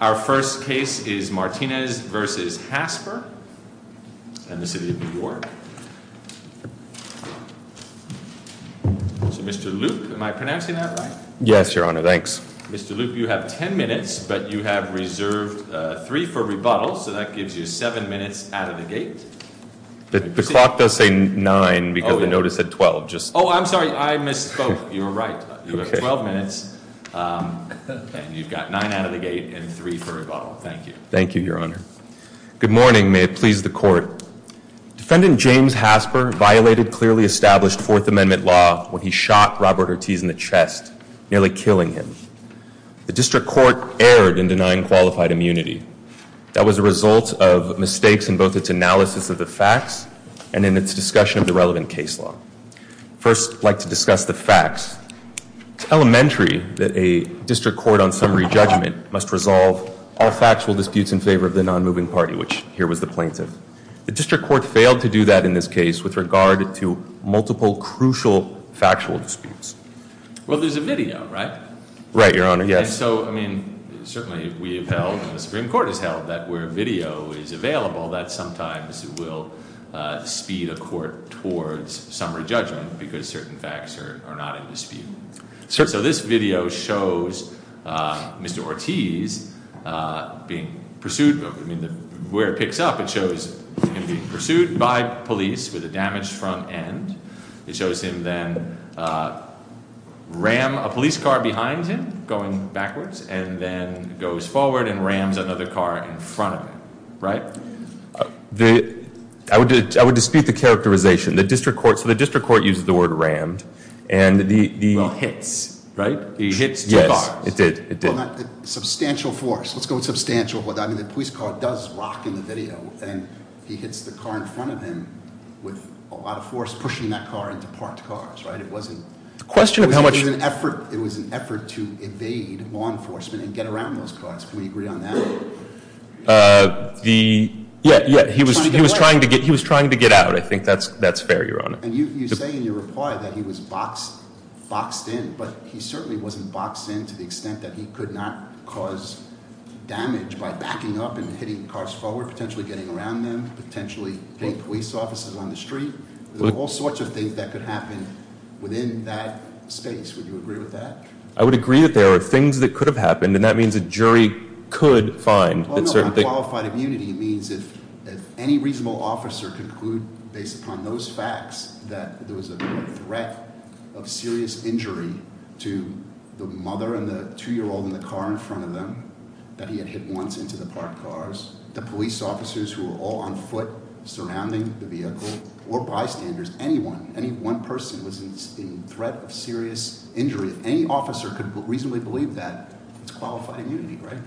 Our first case is Martinez v. Hasper in the city of New York. So Mr. Loup, am I pronouncing that right? Yes, Your Honor, thanks. Mr. Loup, you have 10 minutes, but you have reserved 3 for rebuttal, so that gives you 7 minutes out of the gate. The clock does say 9 because the notice said 12. Oh, I'm sorry, I misspoke. You were right. You have 12 minutes, and you've got 9 out of the gate and 3 for rebuttal. Thank you. Thank you, Your Honor. Good morning. May it please the Court. Defendant James Hasper violated clearly established Fourth Amendment law when he shot Robert Ortiz in the chest, nearly killing him. The District Court erred in denying qualified immunity. That was a result of mistakes in both its analysis of the facts and in its discussion of the relevant case law. First, I'd like to discuss the facts. It's elementary that a District Court on summary judgment must resolve all factual disputes in favor of the nonmoving party, which here was the plaintiff. The District Court failed to do that in this case with regard to multiple crucial factual disputes. Well, there's a video, right? Right, Your Honor, yes. So, I mean, certainly we have held and the Supreme Court has held that where video is available, that sometimes it will speed a court towards summary judgment because certain facts are not in dispute. So this video shows Mr. Ortiz being pursued. I mean, where it picks up, it shows him being pursued by police with a damaged front end. It shows him then ram a police car behind him going backwards and then goes forward and rams another car in front of him, right? I would dispute the characterization. The District Court uses the word rammed and the hits, right? He hits two cars. Yes, it did. Substantial force. Let's go with substantial force. I mean, the police car does rock in the video. And he hits the car in front of him with a lot of force, pushing that car into parked cars, right? It wasn't- The question of how much- It was an effort to evade law enforcement and get around those cars. Can we agree on that? Yeah, yeah. He was trying to get out. I think that's fair, Your Honor. And you say in your reply that he was boxed in, but he certainly wasn't boxed in to the extent that he could not cause damage by backing up and hitting cars forward, potentially getting around them, potentially hitting police officers on the street. There's all sorts of things that could happen within that space. Would you agree with that? I would agree that there are things that could have happened, and that means a jury could find that certain things- There was a threat of serious injury to the mother and the two-year-old in the car in front of them that he had hit once into the parked cars. The police officers who were all on foot surrounding the vehicle, or bystanders, anyone, any one person was in threat of serious injury. If any officer could reasonably believe that, it's qualified immunity, right?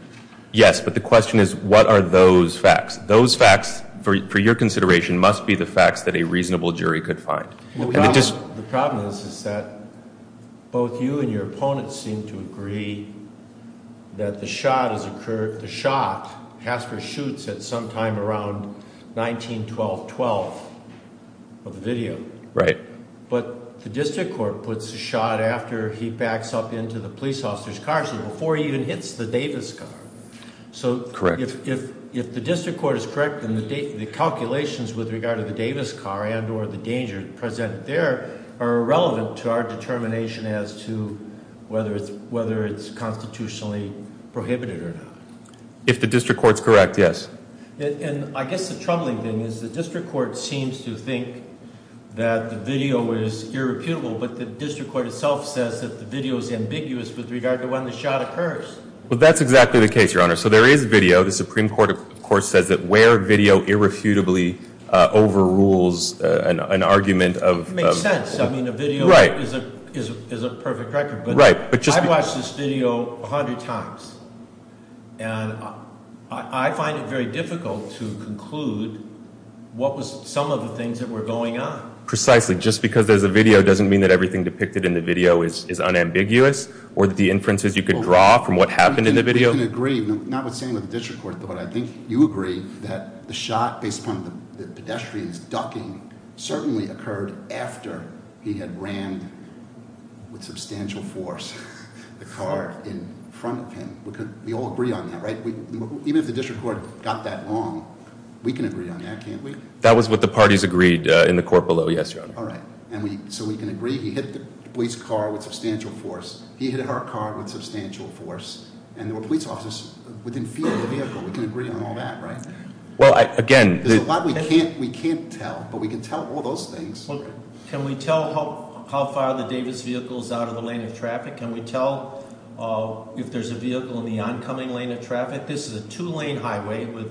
Yes, but the question is, what are those facts? Those facts, for your consideration, must be the facts that a reasonable jury could find. The problem is that both you and your opponents seem to agree that the shot has occurred, the shot, Hasker shoots at some time around 19-12-12 of the video. Right. But the district court puts a shot after he backs up into the police officer's car, so before he even hits the Davis car. Correct. If the district court is correct, then the calculations with regard to the Davis car and or the danger present there are irrelevant to our determination as to whether it's constitutionally prohibited or not. If the district court's correct, yes. And I guess the troubling thing is the district court seems to think that the video is irreputable, but the district court itself says that the video is ambiguous with regard to when the shot occurs. Well, that's exactly the case, Your Honor. So there is video. The Supreme Court, of course, says that where video irrefutably overrules an argument of- It makes sense. I mean, a video is a perfect record. Right. I've watched this video 100 times, and I find it very difficult to conclude what was some of the things that were going on. Precisely. Just because there's a video doesn't mean that everything depicted in the video is unambiguous or that the inferences you could draw from what happened in the video- We can agree, notwithstanding the district court, but I think you agree that the shot, based upon the pedestrian's ducking, certainly occurred after he had ran with substantial force the car in front of him. We all agree on that, right? Even if the district court got that wrong, we can agree on that, can't we? That was what the parties agreed in the court below, yes, Your Honor. All right. So we can agree he hit the police car with substantial force. He hit her car with substantial force. And there were police officers within field of the vehicle. We can agree on all that, right? Well, again- There's a lot we can't tell, but we can tell all those things. Can we tell how far the Davis vehicle is out of the lane of traffic? Can we tell if there's a vehicle in the oncoming lane of traffic? This is a two-lane highway with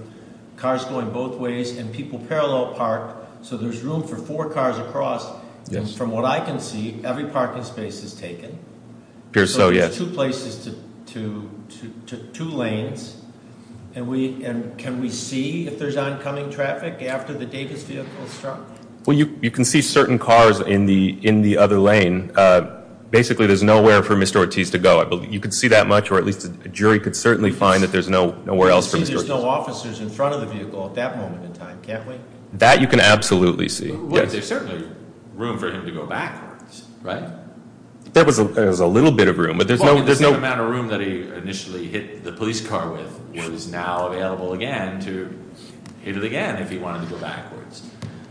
cars going both ways and people parallel parked, so there's room for four cars across. Yes. From what I can see, every parking space is taken. Appears so, yes. So it's two places to two lanes. And can we see if there's oncoming traffic after the Davis vehicle struck? Well, you can see certain cars in the other lane. Basically, there's nowhere for Mr. Ortiz to go. You can see that much, or at least a jury could certainly find that there's nowhere else for Mr. Ortiz- We can see there's no officers in front of the vehicle at that moment in time, can't we? That you can absolutely see, yes. Because there's certainly room for him to go backwards, right? There was a little bit of room, but there's no- The amount of room that he initially hit the police car with was now available again to hit it again if he wanted to go backwards.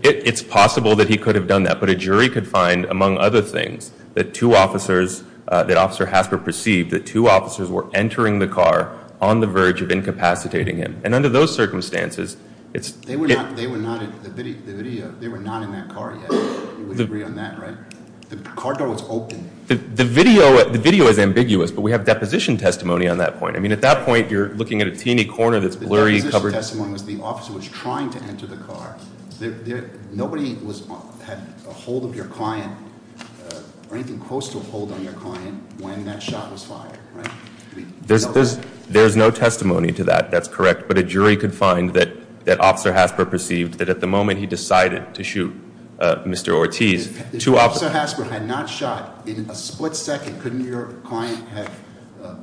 It's possible that he could have done that, but a jury could find, among other things, that two officers, that Officer Hasper perceived that two officers were entering the car on the verge of incapacitating him. And under those circumstances, it's- They were not in that car yet. You would agree on that, right? The car door was open. The video is ambiguous, but we have deposition testimony on that point. I mean, at that point, you're looking at a teeny corner that's blurry, covered- The deposition testimony was the officer was trying to enter the car. Nobody had a hold of your client or anything close to a hold on your client when that shot was fired, right? There's no testimony to that. That's correct. But a jury could find that Officer Hasper perceived that at the moment he decided to shoot Mr. Ortiz, two officers- If Officer Hasper had not shot, in a split second, couldn't your client have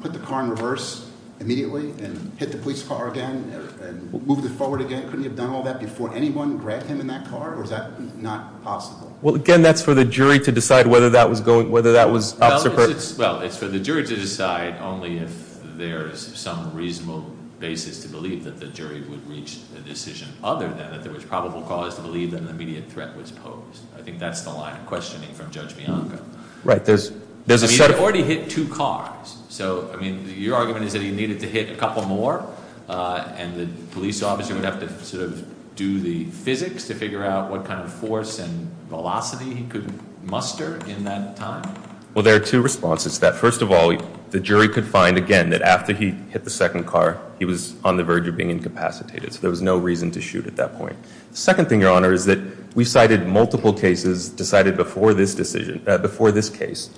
put the car in reverse immediately and hit the police car again and moved it forward again? Couldn't he have done all that before anyone grabbed him in that car, or is that not possible? Well, again, that's for the jury to decide whether that was Officer- Well, it's for the jury to decide only if there's some reasonable basis to believe that the jury would reach a decision, other than that there was probable cause to believe that an immediate threat was posed. I think that's the line of questioning from Judge Bianca. Right. There's a set- I mean, he had already hit two cars. So, I mean, your argument is that he needed to hit a couple more and the police officer would have to sort of do the physics to figure out what kind of force and velocity he could muster in that time? Well, there are two responses to that. First of all, the jury could find, again, that after he hit the second car, he was on the verge of being incapacitated. So there was no reason to shoot at that point. The second thing, Your Honor, is that we cited multiple cases decided before this decision, before this case,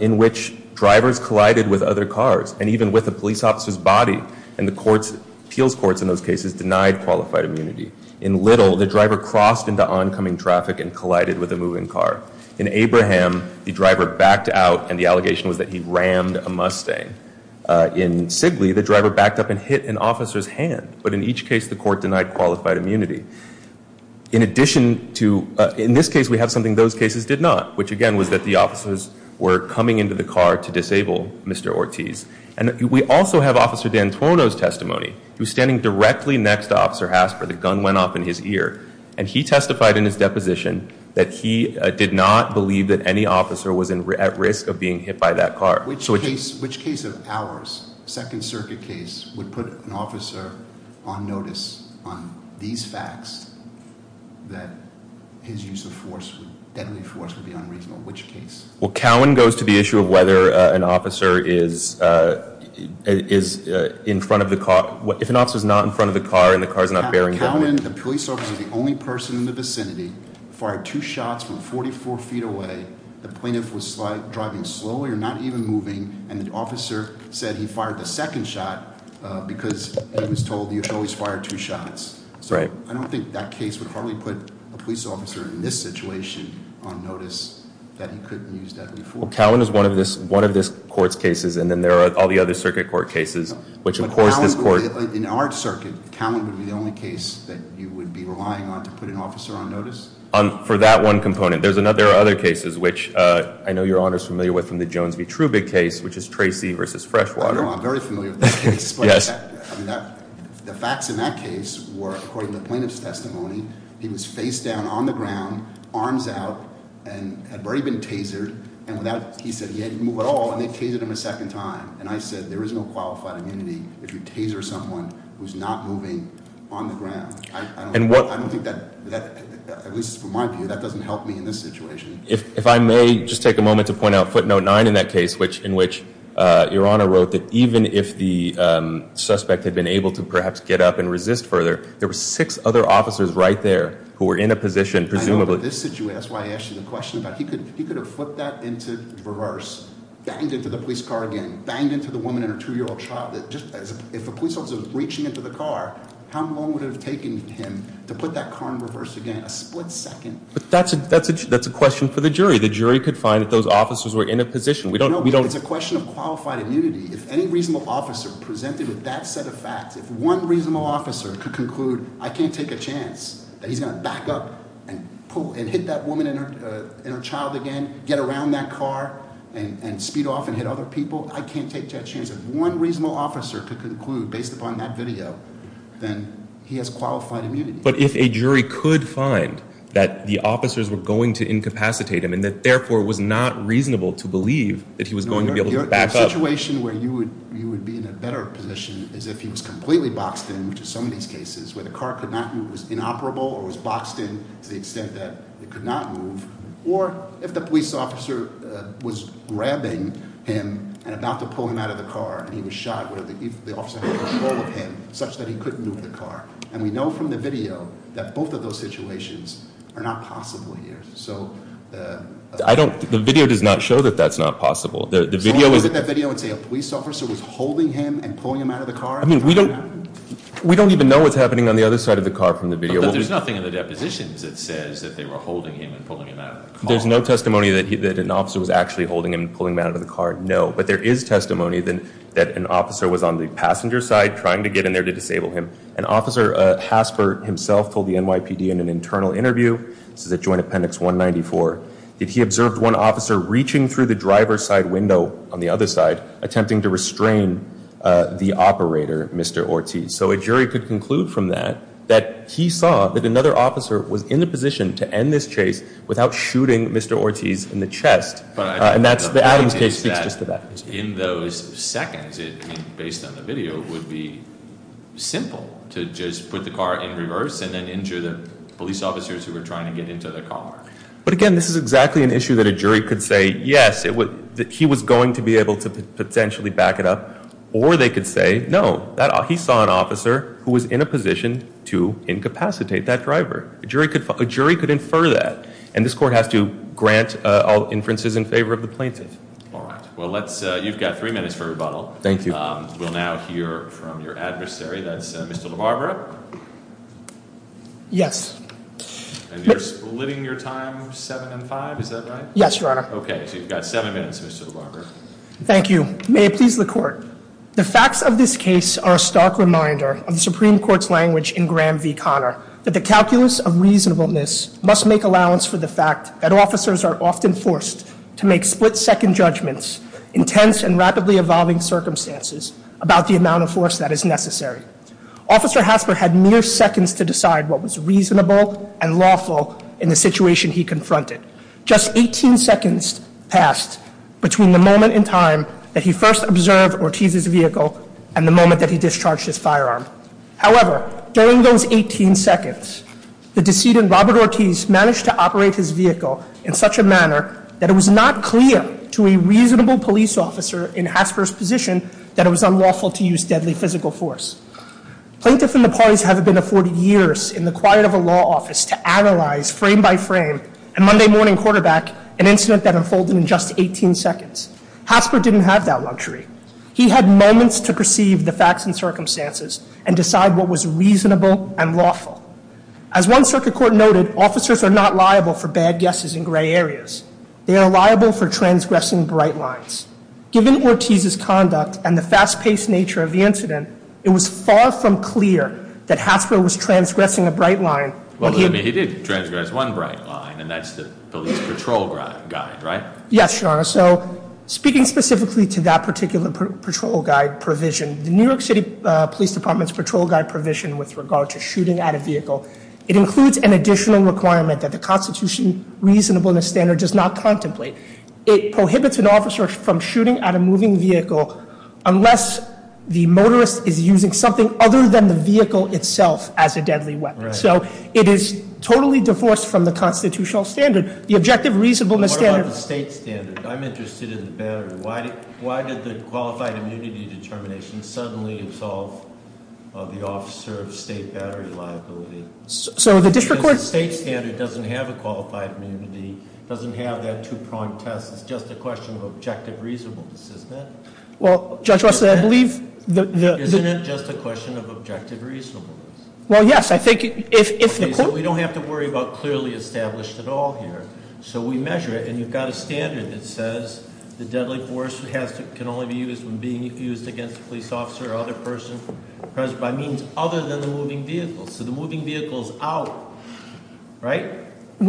in which drivers collided with other cars, and even with a police officer's body. And the courts, appeals courts in those cases, denied qualified immunity. In Little, the driver crossed into oncoming traffic and collided with a moving car. In Abraham, the driver backed out, and the allegation was that he rammed a Mustang. In Sigley, the driver backed up and hit an officer's hand. But in each case, the court denied qualified immunity. In addition to- in this case, we have something those cases did not, which, again, was that the officers were coming into the car to disable Mr. Ortiz. And we also have Officer D'Antuono's testimony. He was standing directly next to Officer Hasper. The gun went off in his ear. And he testified in his deposition that he did not believe that any officer was at risk of being hit by that car. Which case- which case of ours, Second Circuit case, would put an officer on notice on these facts that his use of force, deadly force, would be unreasonable? Which case? Well, Cowan goes to the issue of whether an officer is in front of the car. If an officer's not in front of the car and the car's not bearing- Well, Cowan, the police officer, the only person in the vicinity, fired two shots from 44 feet away. The plaintiff was driving slowly or not even moving. And the officer said he fired the second shot because he was told you should always fire two shots. So I don't think that case would hardly put a police officer in this situation on notice that he couldn't use deadly force. Well, Cowan is one of this court's cases. And then there are all the other circuit court cases, which, of course, this court- In our circuit, Cowan would be the only case that you would be relying on to put an officer on notice? For that one component. There are other cases which I know your Honor's familiar with from the Jones v. Trubick case, which is Tracy versus Freshwater. I'm very familiar with that case. Yes. The facts in that case were, according to the plaintiff's testimony, he was face down on the ground, arms out, and had already been tasered. And he said he hadn't moved at all, and they tasered him a second time. And I said, there is no qualified immunity if you taser someone who's not moving on the ground. I don't think that, at least from my view, that doesn't help me in this situation. If I may just take a moment to point out footnote nine in that case, in which your Honor wrote that even if the suspect had been able to perhaps get up and resist further, there were six other officers right there who were in a position presumably- If a police officer was reaching into the car, how long would it have taken him to put that car in reverse again? A split second? But that's a question for the jury. The jury could find that those officers were in a position. We don't- No, but it's a question of qualified immunity. If any reasonable officer presented with that set of facts, if one reasonable officer could conclude, I can't take a chance, that he's going to back up and hit that woman and her child again, get around that car, and speed off and hit other people. I can't take that chance. If one reasonable officer could conclude based upon that video, then he has qualified immunity. But if a jury could find that the officers were going to incapacitate him and that, therefore, it was not reasonable to believe that he was going to be able to back up- where the car could not move, was inoperable, or was boxed in to the extent that it could not move, or if the police officer was grabbing him and about to pull him out of the car and he was shot, where the officer had control of him such that he couldn't move the car. And we know from the video that both of those situations are not possible here. So- I don't- the video does not show that that's not possible. The video is- Someone could look at that video and say a police officer was holding him and pulling him out of the car- I mean, we don't- we don't even know what's happening on the other side of the car from the video. But there's nothing in the depositions that says that they were holding him and pulling him out of the car. There's no testimony that an officer was actually holding him and pulling him out of the car, no. But there is testimony that an officer was on the passenger side trying to get in there to disable him. And Officer Haspert himself told the NYPD in an internal interview, this is at Joint Appendix 194, that he observed one officer reaching through the driver's side window on the other side, attempting to restrain the operator, Mr. Ortiz. So a jury could conclude from that that he saw that another officer was in the position to end this chase without shooting Mr. Ortiz in the chest. And that's the Adams case. In those seconds, based on the video, it would be simple to just put the car in reverse and then injure the police officers who were trying to get into the car. But again, this is exactly an issue that a jury could say, yes, he was going to be able to potentially back it up. Or they could say, no, he saw an officer who was in a position to incapacitate that driver. A jury could infer that. And this court has to grant all inferences in favor of the plaintiff. All right. Well, you've got three minutes for rebuttal. Thank you. We'll now hear from your adversary. That's Mr. LaBarbera. Yes. And you're splitting your time seven and five, is that right? Yes, Your Honor. Okay. So you've got seven minutes, Mr. LaBarbera. Thank you. May it please the Court. The facts of this case are a stark reminder of the Supreme Court's language in Graham v. Conner, that the calculus of reasonableness must make allowance for the fact that officers are often forced to make split-second judgments, intense and rapidly evolving circumstances, about the amount of force that is necessary. Officer Hasper had mere seconds to decide what was reasonable and lawful in the situation he confronted. Just 18 seconds passed between the moment in time that he first observed Ortiz's vehicle and the moment that he discharged his firearm. However, during those 18 seconds, the decedent, Robert Ortiz, managed to operate his vehicle in such a manner that it was not clear to a reasonable police officer in Hasper's position that it was unlawful to use deadly physical force. Plaintiffs and the parties haven't been afforded years in the quiet of a law office to analyze, frame by frame, a Monday morning quarterback, an incident that unfolded in just 18 seconds. Hasper didn't have that luxury. He had moments to perceive the facts and circumstances and decide what was reasonable and lawful. As one circuit court noted, officers are not liable for bad guesses in gray areas. They are liable for transgressing bright lines. Given Ortiz's conduct and the fast-paced nature of the incident, it was far from clear that Hasper was transgressing a bright line. Well, he did transgress one bright line, and that's the police patrol guy, right? Yes, Your Honor. So speaking specifically to that particular patrol guide provision, the New York City Police Department's patrol guide provision with regard to shooting at a vehicle, it includes an additional requirement that the Constitution reasonableness standard does not contemplate. It prohibits an officer from shooting at a moving vehicle unless the motorist is using something other than the vehicle itself as a deadly weapon. Right. So it is totally divorced from the constitutional standard. The objective reasonableness standard- What about the state standard? I'm interested in the battery. Why did the qualified immunity determination suddenly absolve the officer of state battery liability? So the district court- Because the state standard doesn't have a qualified immunity, doesn't have that two-prong test. It's just a question of objective reasonableness, isn't it? Well, Judge Russell, I believe the- Isn't it just a question of objective reasonableness? Well, yes. I think if the court- So we measure it, and you've got a standard that says the deadly force can only be used when being used against a police officer or other person present by means other than the moving vehicle. So the moving vehicle's out, right?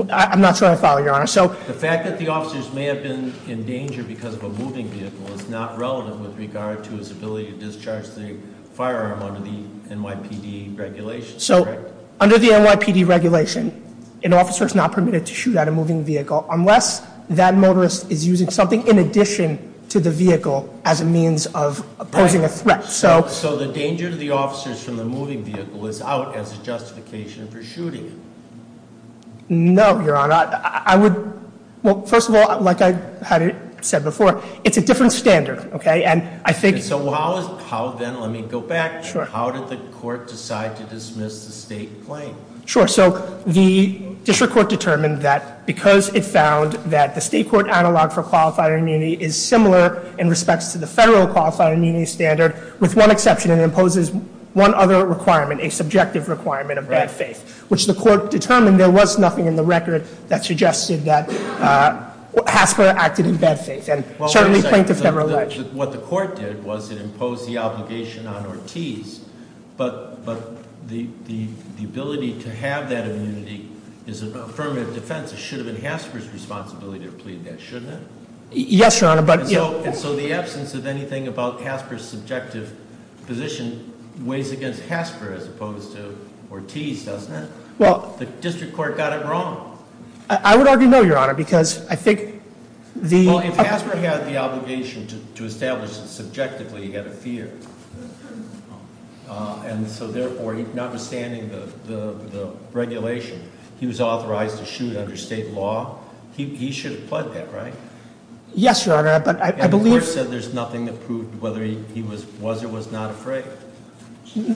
I'm not sure I follow, Your Honor. So- The fact that the officers may have been in danger because of a moving vehicle is not relative with regard to his ability to discharge the firearm under the NYPD regulation. So under the NYPD regulation, an officer is not permitted to shoot at a moving vehicle unless that motorist is using something in addition to the vehicle as a means of posing a threat. So- So the danger to the officers from the moving vehicle is out as a justification for shooting? No, Your Honor. I would- Well, first of all, like I had said before, it's a different standard, okay? And I think- So how is- How then- Let me go back. Sure. How did the court decide to dismiss the state claim? Sure. So the district court determined that because it found that the state court analog for qualified immunity is similar in respect to the federal qualified immunity standard, with one exception, it imposes one other requirement, a subjective requirement of bad faith, which the court determined there was nothing in the record that suggested that Hasker acted in bad faith and certainly plaintiff never alleged. What the court did was it imposed the obligation on Ortiz, but the ability to have that immunity is an affirmative defense. It should have been Hasker's responsibility to plead that, shouldn't it? Yes, Your Honor, but- And so the absence of anything about Hasker's subjective position weighs against Hasker as opposed to Ortiz, doesn't it? Well- The district court got it wrong. Well, if Hasker had the obligation to establish that subjectively, he had a fear. And so therefore, notwithstanding the regulation, he was authorized to shoot under state law. He should have pled that, right? Yes, Your Honor, but I believe- And the court said there's nothing that proved whether he was or was not afraid.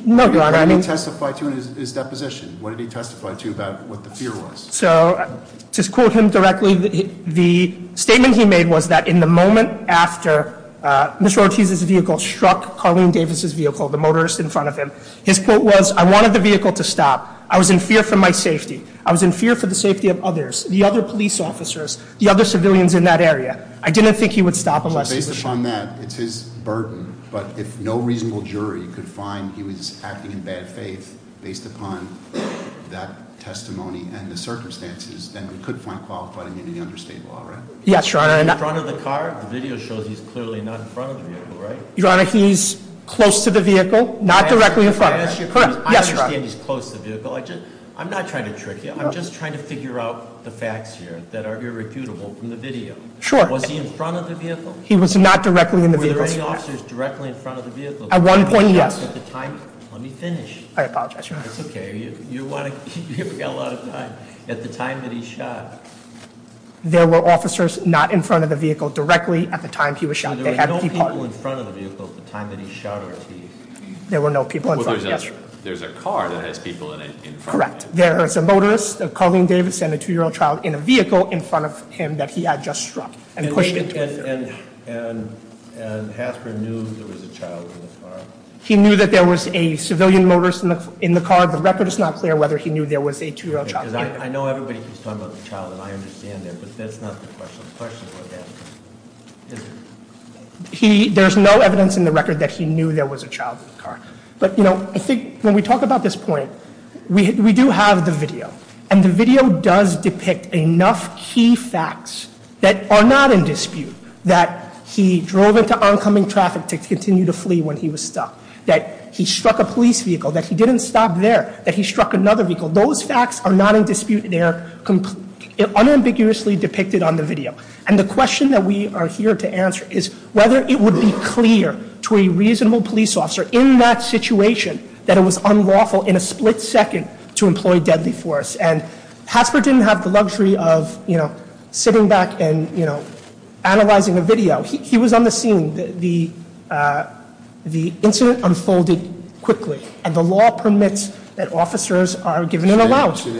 No, Your Honor, I mean- What did he testify to in his deposition? What did he testify to about what the fear was? So, to quote him directly, the statement he made was that in the moment after Mr. Ortiz's vehicle struck Carlene Davis's vehicle, the motorist in front of him, his quote was, I wanted the vehicle to stop. I was in fear for my safety. I was in fear for the safety of others, the other police officers, the other civilians in that area. I didn't think he would stop unless- So based upon that, it's his burden. But if no reasonable jury could find he was acting in bad faith based upon that testimony. And the circumstances, then we could find qualified immunity under state law, right? Yes, Your Honor. In front of the car? The video shows he's clearly not in front of the vehicle, right? Your Honor, he's close to the vehicle, not directly in front. Correct. Yes, Your Honor. I understand he's close to the vehicle. I'm not trying to trick you. I'm just trying to figure out the facts here that are irrefutable from the video. Sure. Was he in front of the vehicle? He was not directly in the vehicle. Were there any officers directly in front of the vehicle? At one point, yes. Let me finish. I apologize, Your Honor. It's okay. You haven't got a lot of time. At the time that he shot- There were officers not in front of the vehicle directly at the time he was shot. They had people- There were no people in front of the vehicle at the time that he shot or as he- There were no people in front, yes. There's a car that has people in front of it. Correct. There is a motorist, a Colleen Davis, and a two-year-old child in a vehicle in front of him that he had just struck and pushed into a car. And Hasbro knew there was a child in the car? He knew that there was a civilian motorist in the car. The record is not clear whether he knew there was a two-year-old child in the car. I know everybody keeps talking about the child, and I understand that, but that's not the question. The question was that- There's no evidence in the record that he knew there was a child in the car. But, you know, I think when we talk about this point, we do have the video. And the video does depict enough key facts that are not in dispute, that he drove into oncoming traffic to continue to flee when he was stuck, that he struck a police vehicle, that he didn't stop there, that he struck another vehicle. Those facts are not in dispute, and they are unambiguously depicted on the video. And the question that we are here to answer is whether it would be clear to a reasonable police officer in that situation that it was unlawful in a split second to employ deadly force. And Hasbro didn't have the luxury of sitting back and analyzing a video. He was on the scene. The incident unfolded quickly, and the law permits that officers are given an allowance. Should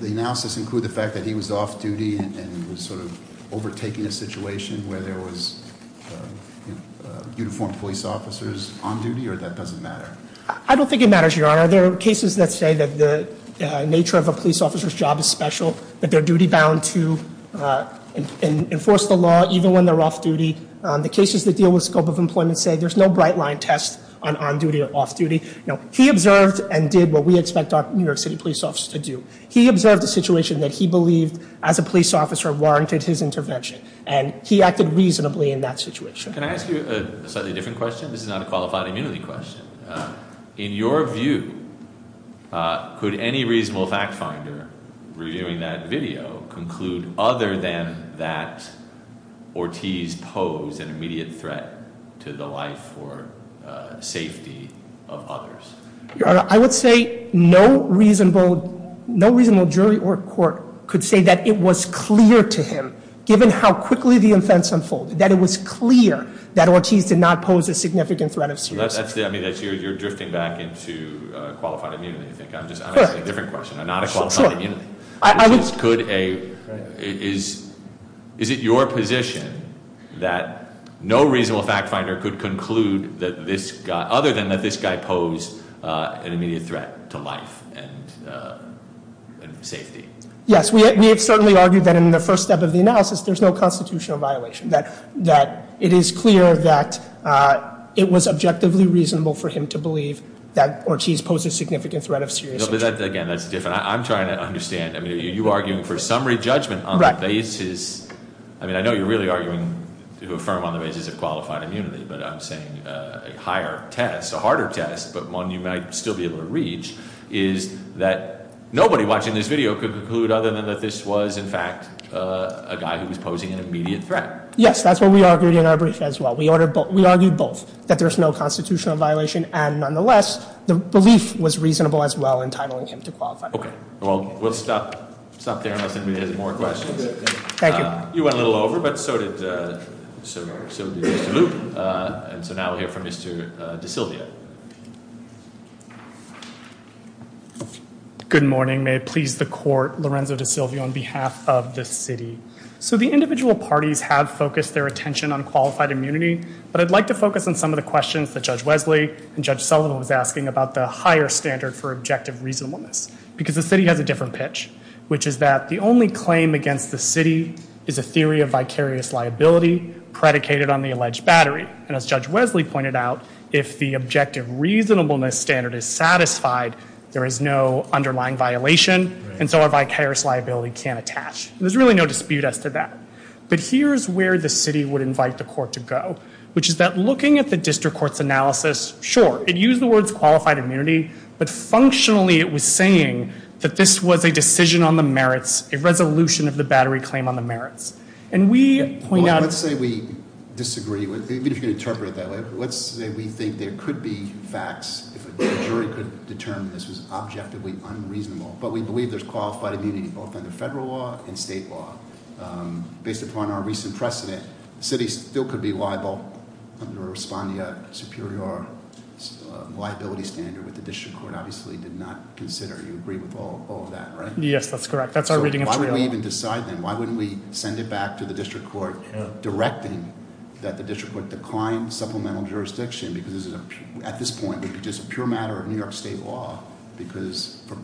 the analysis include the fact that he was off-duty and was sort of overtaking a situation where there was uniformed police officers on duty, or that doesn't matter? I don't think it matters, Your Honor. There are cases that say that the nature of a police officer's job is special, that they're duty-bound to enforce the law even when they're off-duty. The cases that deal with scope of employment say there's no bright-line test on on-duty or off-duty. He observed and did what we expect New York City police officers to do. He observed a situation that he believed, as a police officer, warranted his intervention, and he acted reasonably in that situation. Can I ask you a slightly different question? This is not a qualified immunity question. In your view, could any reasonable fact finder reviewing that video conclude other than that Ortiz posed an immediate threat to the life or safety of others? Your Honor, I would say no reasonable jury or court could say that it was clear to him, given how quickly the events unfolded, that it was clear that Ortiz did not pose a significant threat of serious harm. I mean, you're drifting back into qualified immunity, I think. I'm asking a different question, not a qualified immunity. Is it your position that no reasonable fact finder could conclude other than that this guy posed an immediate threat to life and safety? Yes, we have certainly argued that in the first step of the analysis, there's no constitutional violation. That it is clear that it was objectively reasonable for him to believe that Ortiz posed a significant threat of serious harm. But again, that's different. I'm trying to understand. I mean, are you arguing for summary judgment on the basis? I mean, I know you're really arguing to affirm on the basis of qualified immunity, but I'm saying a higher test, a harder test, but one you might still be able to reach, is that nobody watching this video could conclude other than that this was, in fact, a guy who was posing an immediate threat. Yes, that's what we argued in our brief as well. We argued both, that there's no constitutional violation, and nonetheless, the belief was reasonable as well in titling him to qualified immunity. Okay. Well, we'll stop there unless anybody has more questions. Thank you. You went a little over, but so did Mr. Luke, and so now we'll hear from Mr. DeSilvio. Good morning. May it please the court, Lorenzo DeSilvio on behalf of the city. So the individual parties have focused their attention on qualified immunity, but I'd like to focus on some of the questions that Judge Wesley and Judge Sullivan was asking about the higher standard for objective reasonableness, because the city has a different pitch, which is that the only claim against the city is a theory of vicarious liability predicated on the alleged battery. And as Judge Wesley pointed out, if the objective reasonableness standard is satisfied, there is no underlying violation, and so our vicarious liability can't attach. There's really no dispute as to that. But here's where the city would invite the court to go, which is that looking at the district court's analysis, sure, it used the words qualified immunity, but functionally it was saying that this was a decision on the merits, a resolution of the battery claim on the merits. And we point out- Well, let's say we disagree, even if you can interpret it that way. Let's say we think there could be facts if a jury could determine this was objectively unreasonable, but we believe there's qualified immunity both under federal law and state law. Based upon our recent precedent, the city still could be liable under a respondea superior liability standard, which the district court obviously did not consider. You agree with all of that, right? Yes, that's correct. That's our reading of the bill. So why would we even decide then? Why wouldn't we send it back to the district court, directing that the district court decline supplemental jurisdiction? Because at this point, it would be just a pure matter of New York state law, because for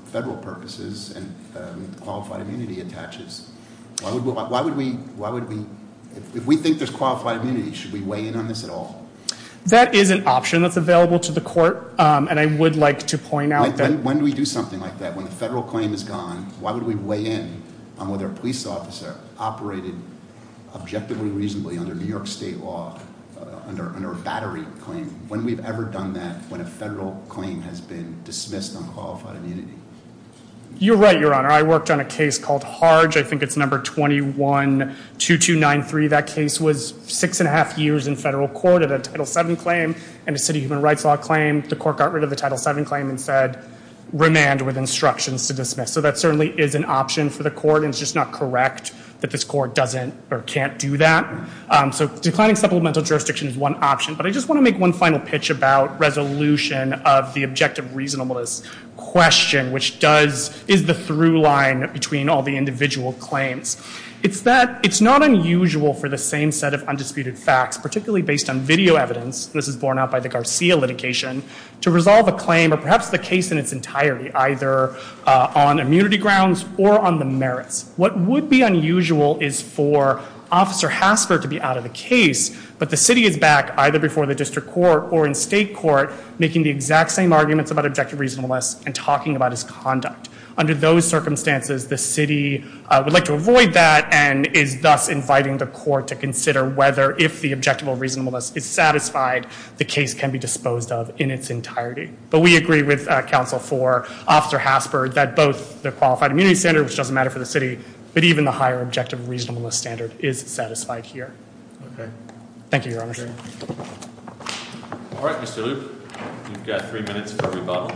If we think there's qualified immunity, should we weigh in on this at all? That is an option that's available to the court, and I would like to point out that- When do we do something like that? When the federal claim is gone, why would we weigh in on whether a police officer operated objectively reasonably under New York state law, under a battery claim? When have we ever done that when a federal claim has been dismissed on qualified immunity? You're right, Your Honor. I worked on a case called Harge. I think it's number 212293. That case was six and a half years in federal court. It had a Title VII claim and a city human rights law claim. The court got rid of the Title VII claim and said remand with instructions to dismiss. So that certainly is an option for the court. It's just not correct that this court doesn't or can't do that. So declining supplemental jurisdiction is one option, but I just want to make one final pitch about resolution of the objective reasonableness question, which is the through line between all the individual claims. It's that it's not unusual for the same set of undisputed facts, particularly based on video evidence- this is borne out by the Garcia litigation- to resolve a claim, or perhaps the case in its entirety, either on immunity grounds or on the merits. What would be unusual is for Officer Hasker to be out of the case, but the city is back, either before the district court or in state court, making the exact same arguments about objective reasonableness and talking about its conduct. Under those circumstances, the city would like to avoid that and is thus inviting the court to consider whether, if the objective reasonableness is satisfied, the case can be disposed of in its entirety. But we agree with counsel for Officer Hasker that both the qualified immunity standard, which doesn't matter for the city, but even the higher objective reasonableness standard is satisfied here. Thank you, Your Honor. All right, Mr. Loop. You've got three minutes for rebuttal.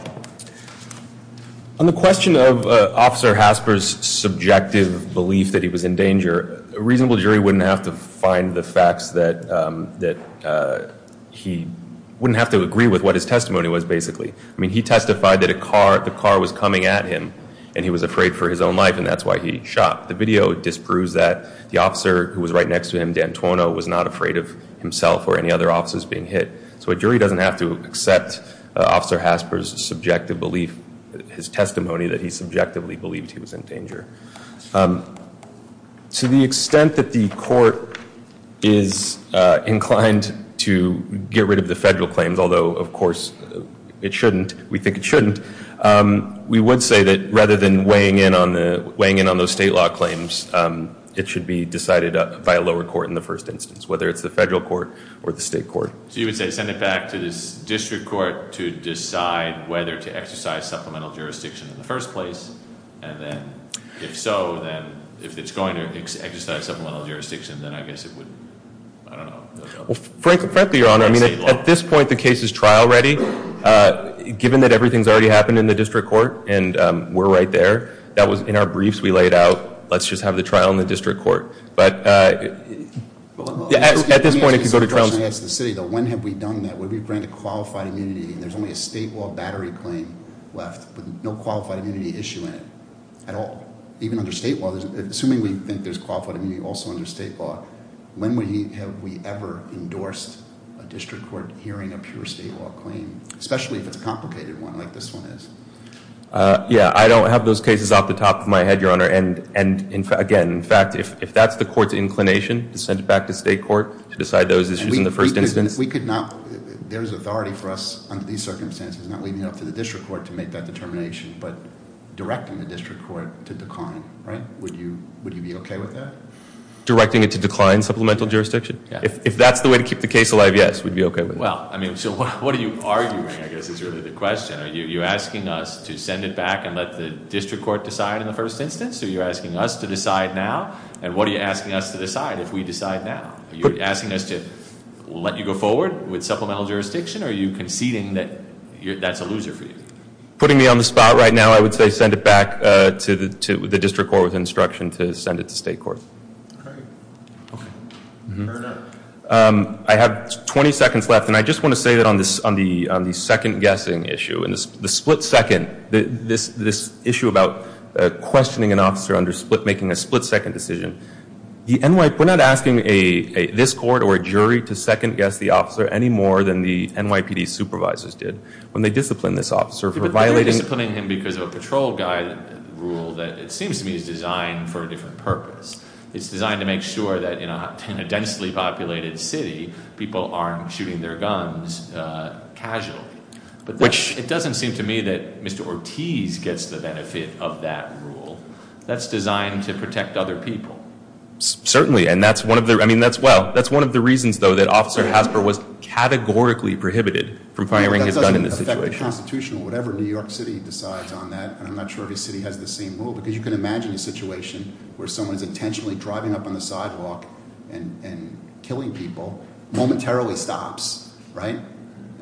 On the question of Officer Hasker's subjective belief that he was in danger, a reasonable jury wouldn't have to find the facts that he- wouldn't have to agree with what his testimony was, basically. I mean, he testified that a car- the car was coming at him, and he was afraid for his own life, and that's why he shot. The video disproves that. The officer who was right next to him, D'Antuono, was not afraid of himself or any other officers being hit. So a jury doesn't have to accept Officer Hasker's subjective belief, his testimony that he subjectively believed he was in danger. To the extent that the court is inclined to get rid of the federal claims, although, of course, it shouldn't, we think it shouldn't, we would say that rather than weighing in on the- it should be decided by a lower court in the first instance, whether it's the federal court or the state court. So you would say send it back to the district court to decide whether to exercise supplemental jurisdiction in the first place, and then if so, then if it's going to exercise supplemental jurisdiction, then I guess it would, I don't know. Frankly, Your Honor, at this point the case is trial ready. Given that everything's already happened in the district court, and we're right there, that was in our briefs we laid out, let's just have the trial in the district court. At this point if you go to trial- When have we done that? We've granted qualified immunity, and there's only a state law battery claim left with no qualified immunity issue in it at all, even under state law. Assuming we think there's qualified immunity also under state law, when have we ever endorsed a district court hearing a pure state law claim, especially if it's a complicated one like this one is? Yeah, I don't have those cases off the top of my head, Your Honor, and again, in fact, if that's the court's inclination, to send it back to state court to decide those issues in the first instance- We could not, there's authority for us under these circumstances, not leaving it up to the district court to make that determination, but directing the district court to decline, right? Would you be okay with that? Directing it to decline supplemental jurisdiction? Yeah. If that's the way to keep the case alive, yes, we'd be okay with that. Well, I mean, so what are you arguing, I guess, is really the question. Are you asking us to send it back and let the district court decide in the first instance, or are you asking us to decide now? And what are you asking us to decide if we decide now? Are you asking us to let you go forward with supplemental jurisdiction, or are you conceding that that's a loser for you? Putting me on the spot right now, I would say send it back to the district court with instruction to send it to state court. Great. Okay. Fair enough. I have 20 seconds left, and I just want to say that on the second-guessing issue, the split-second, this issue about questioning an officer under split, making a split-second decision, we're not asking this court or a jury to second-guess the officer any more than the NYPD supervisors did when they disciplined this officer for violating- But they're disciplining him because of a patrol guide rule that it seems to me is designed for a different purpose. It's designed to make sure that in a densely populated city, people aren't shooting their guns casually. Which- It doesn't seem to me that Mr. Ortiz gets the benefit of that rule. That's designed to protect other people. Certainly, and that's one of the reasons, though, that Officer Hasper was categorically prohibited from firing his gun in this situation. That doesn't affect the Constitution. Whatever New York City decides on that, and I'm not sure every city has the same rule, because you can imagine a situation where someone's intentionally driving up on the sidewalk and killing people momentarily stops, right?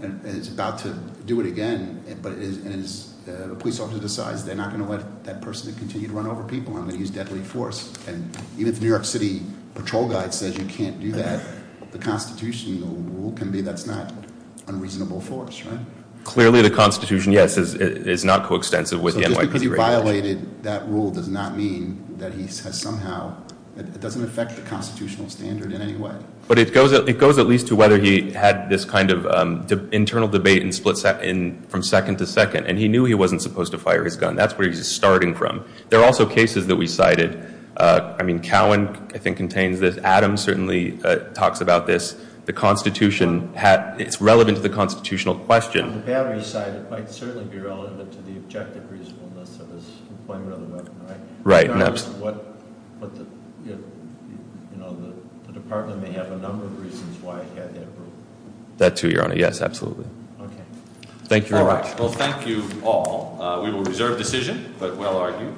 And is about to do it again, but the police officer decides they're not going to let that person continue to run over people. I'm going to use deadly force. And even if the New York City patrol guide says you can't do that, the Constitution rule can be that's not unreasonable force, right? Clearly, the Constitution, yes, is not coextensive with the NYPD- Just because he violated that rule does not mean that he has somehow, it doesn't affect the constitutional standard in any way. But it goes at least to whether he had this kind of internal debate from second to second, and he knew he wasn't supposed to fire his gun. That's where he's starting from. There are also cases that we cited. I mean, Cowan, I think, contains this. Adams certainly talks about this. The Constitution, it's relevant to the constitutional question. On the battery side, it might certainly be relevant to the objective reasonableness of his employment of the weapon, right? Right. Regardless of what the department may have a number of reasons why he had that rule. That too, Your Honor. Yes, absolutely. Okay. Thank you very much. All right. Well, thank you all. We will reserve decision, but will argue.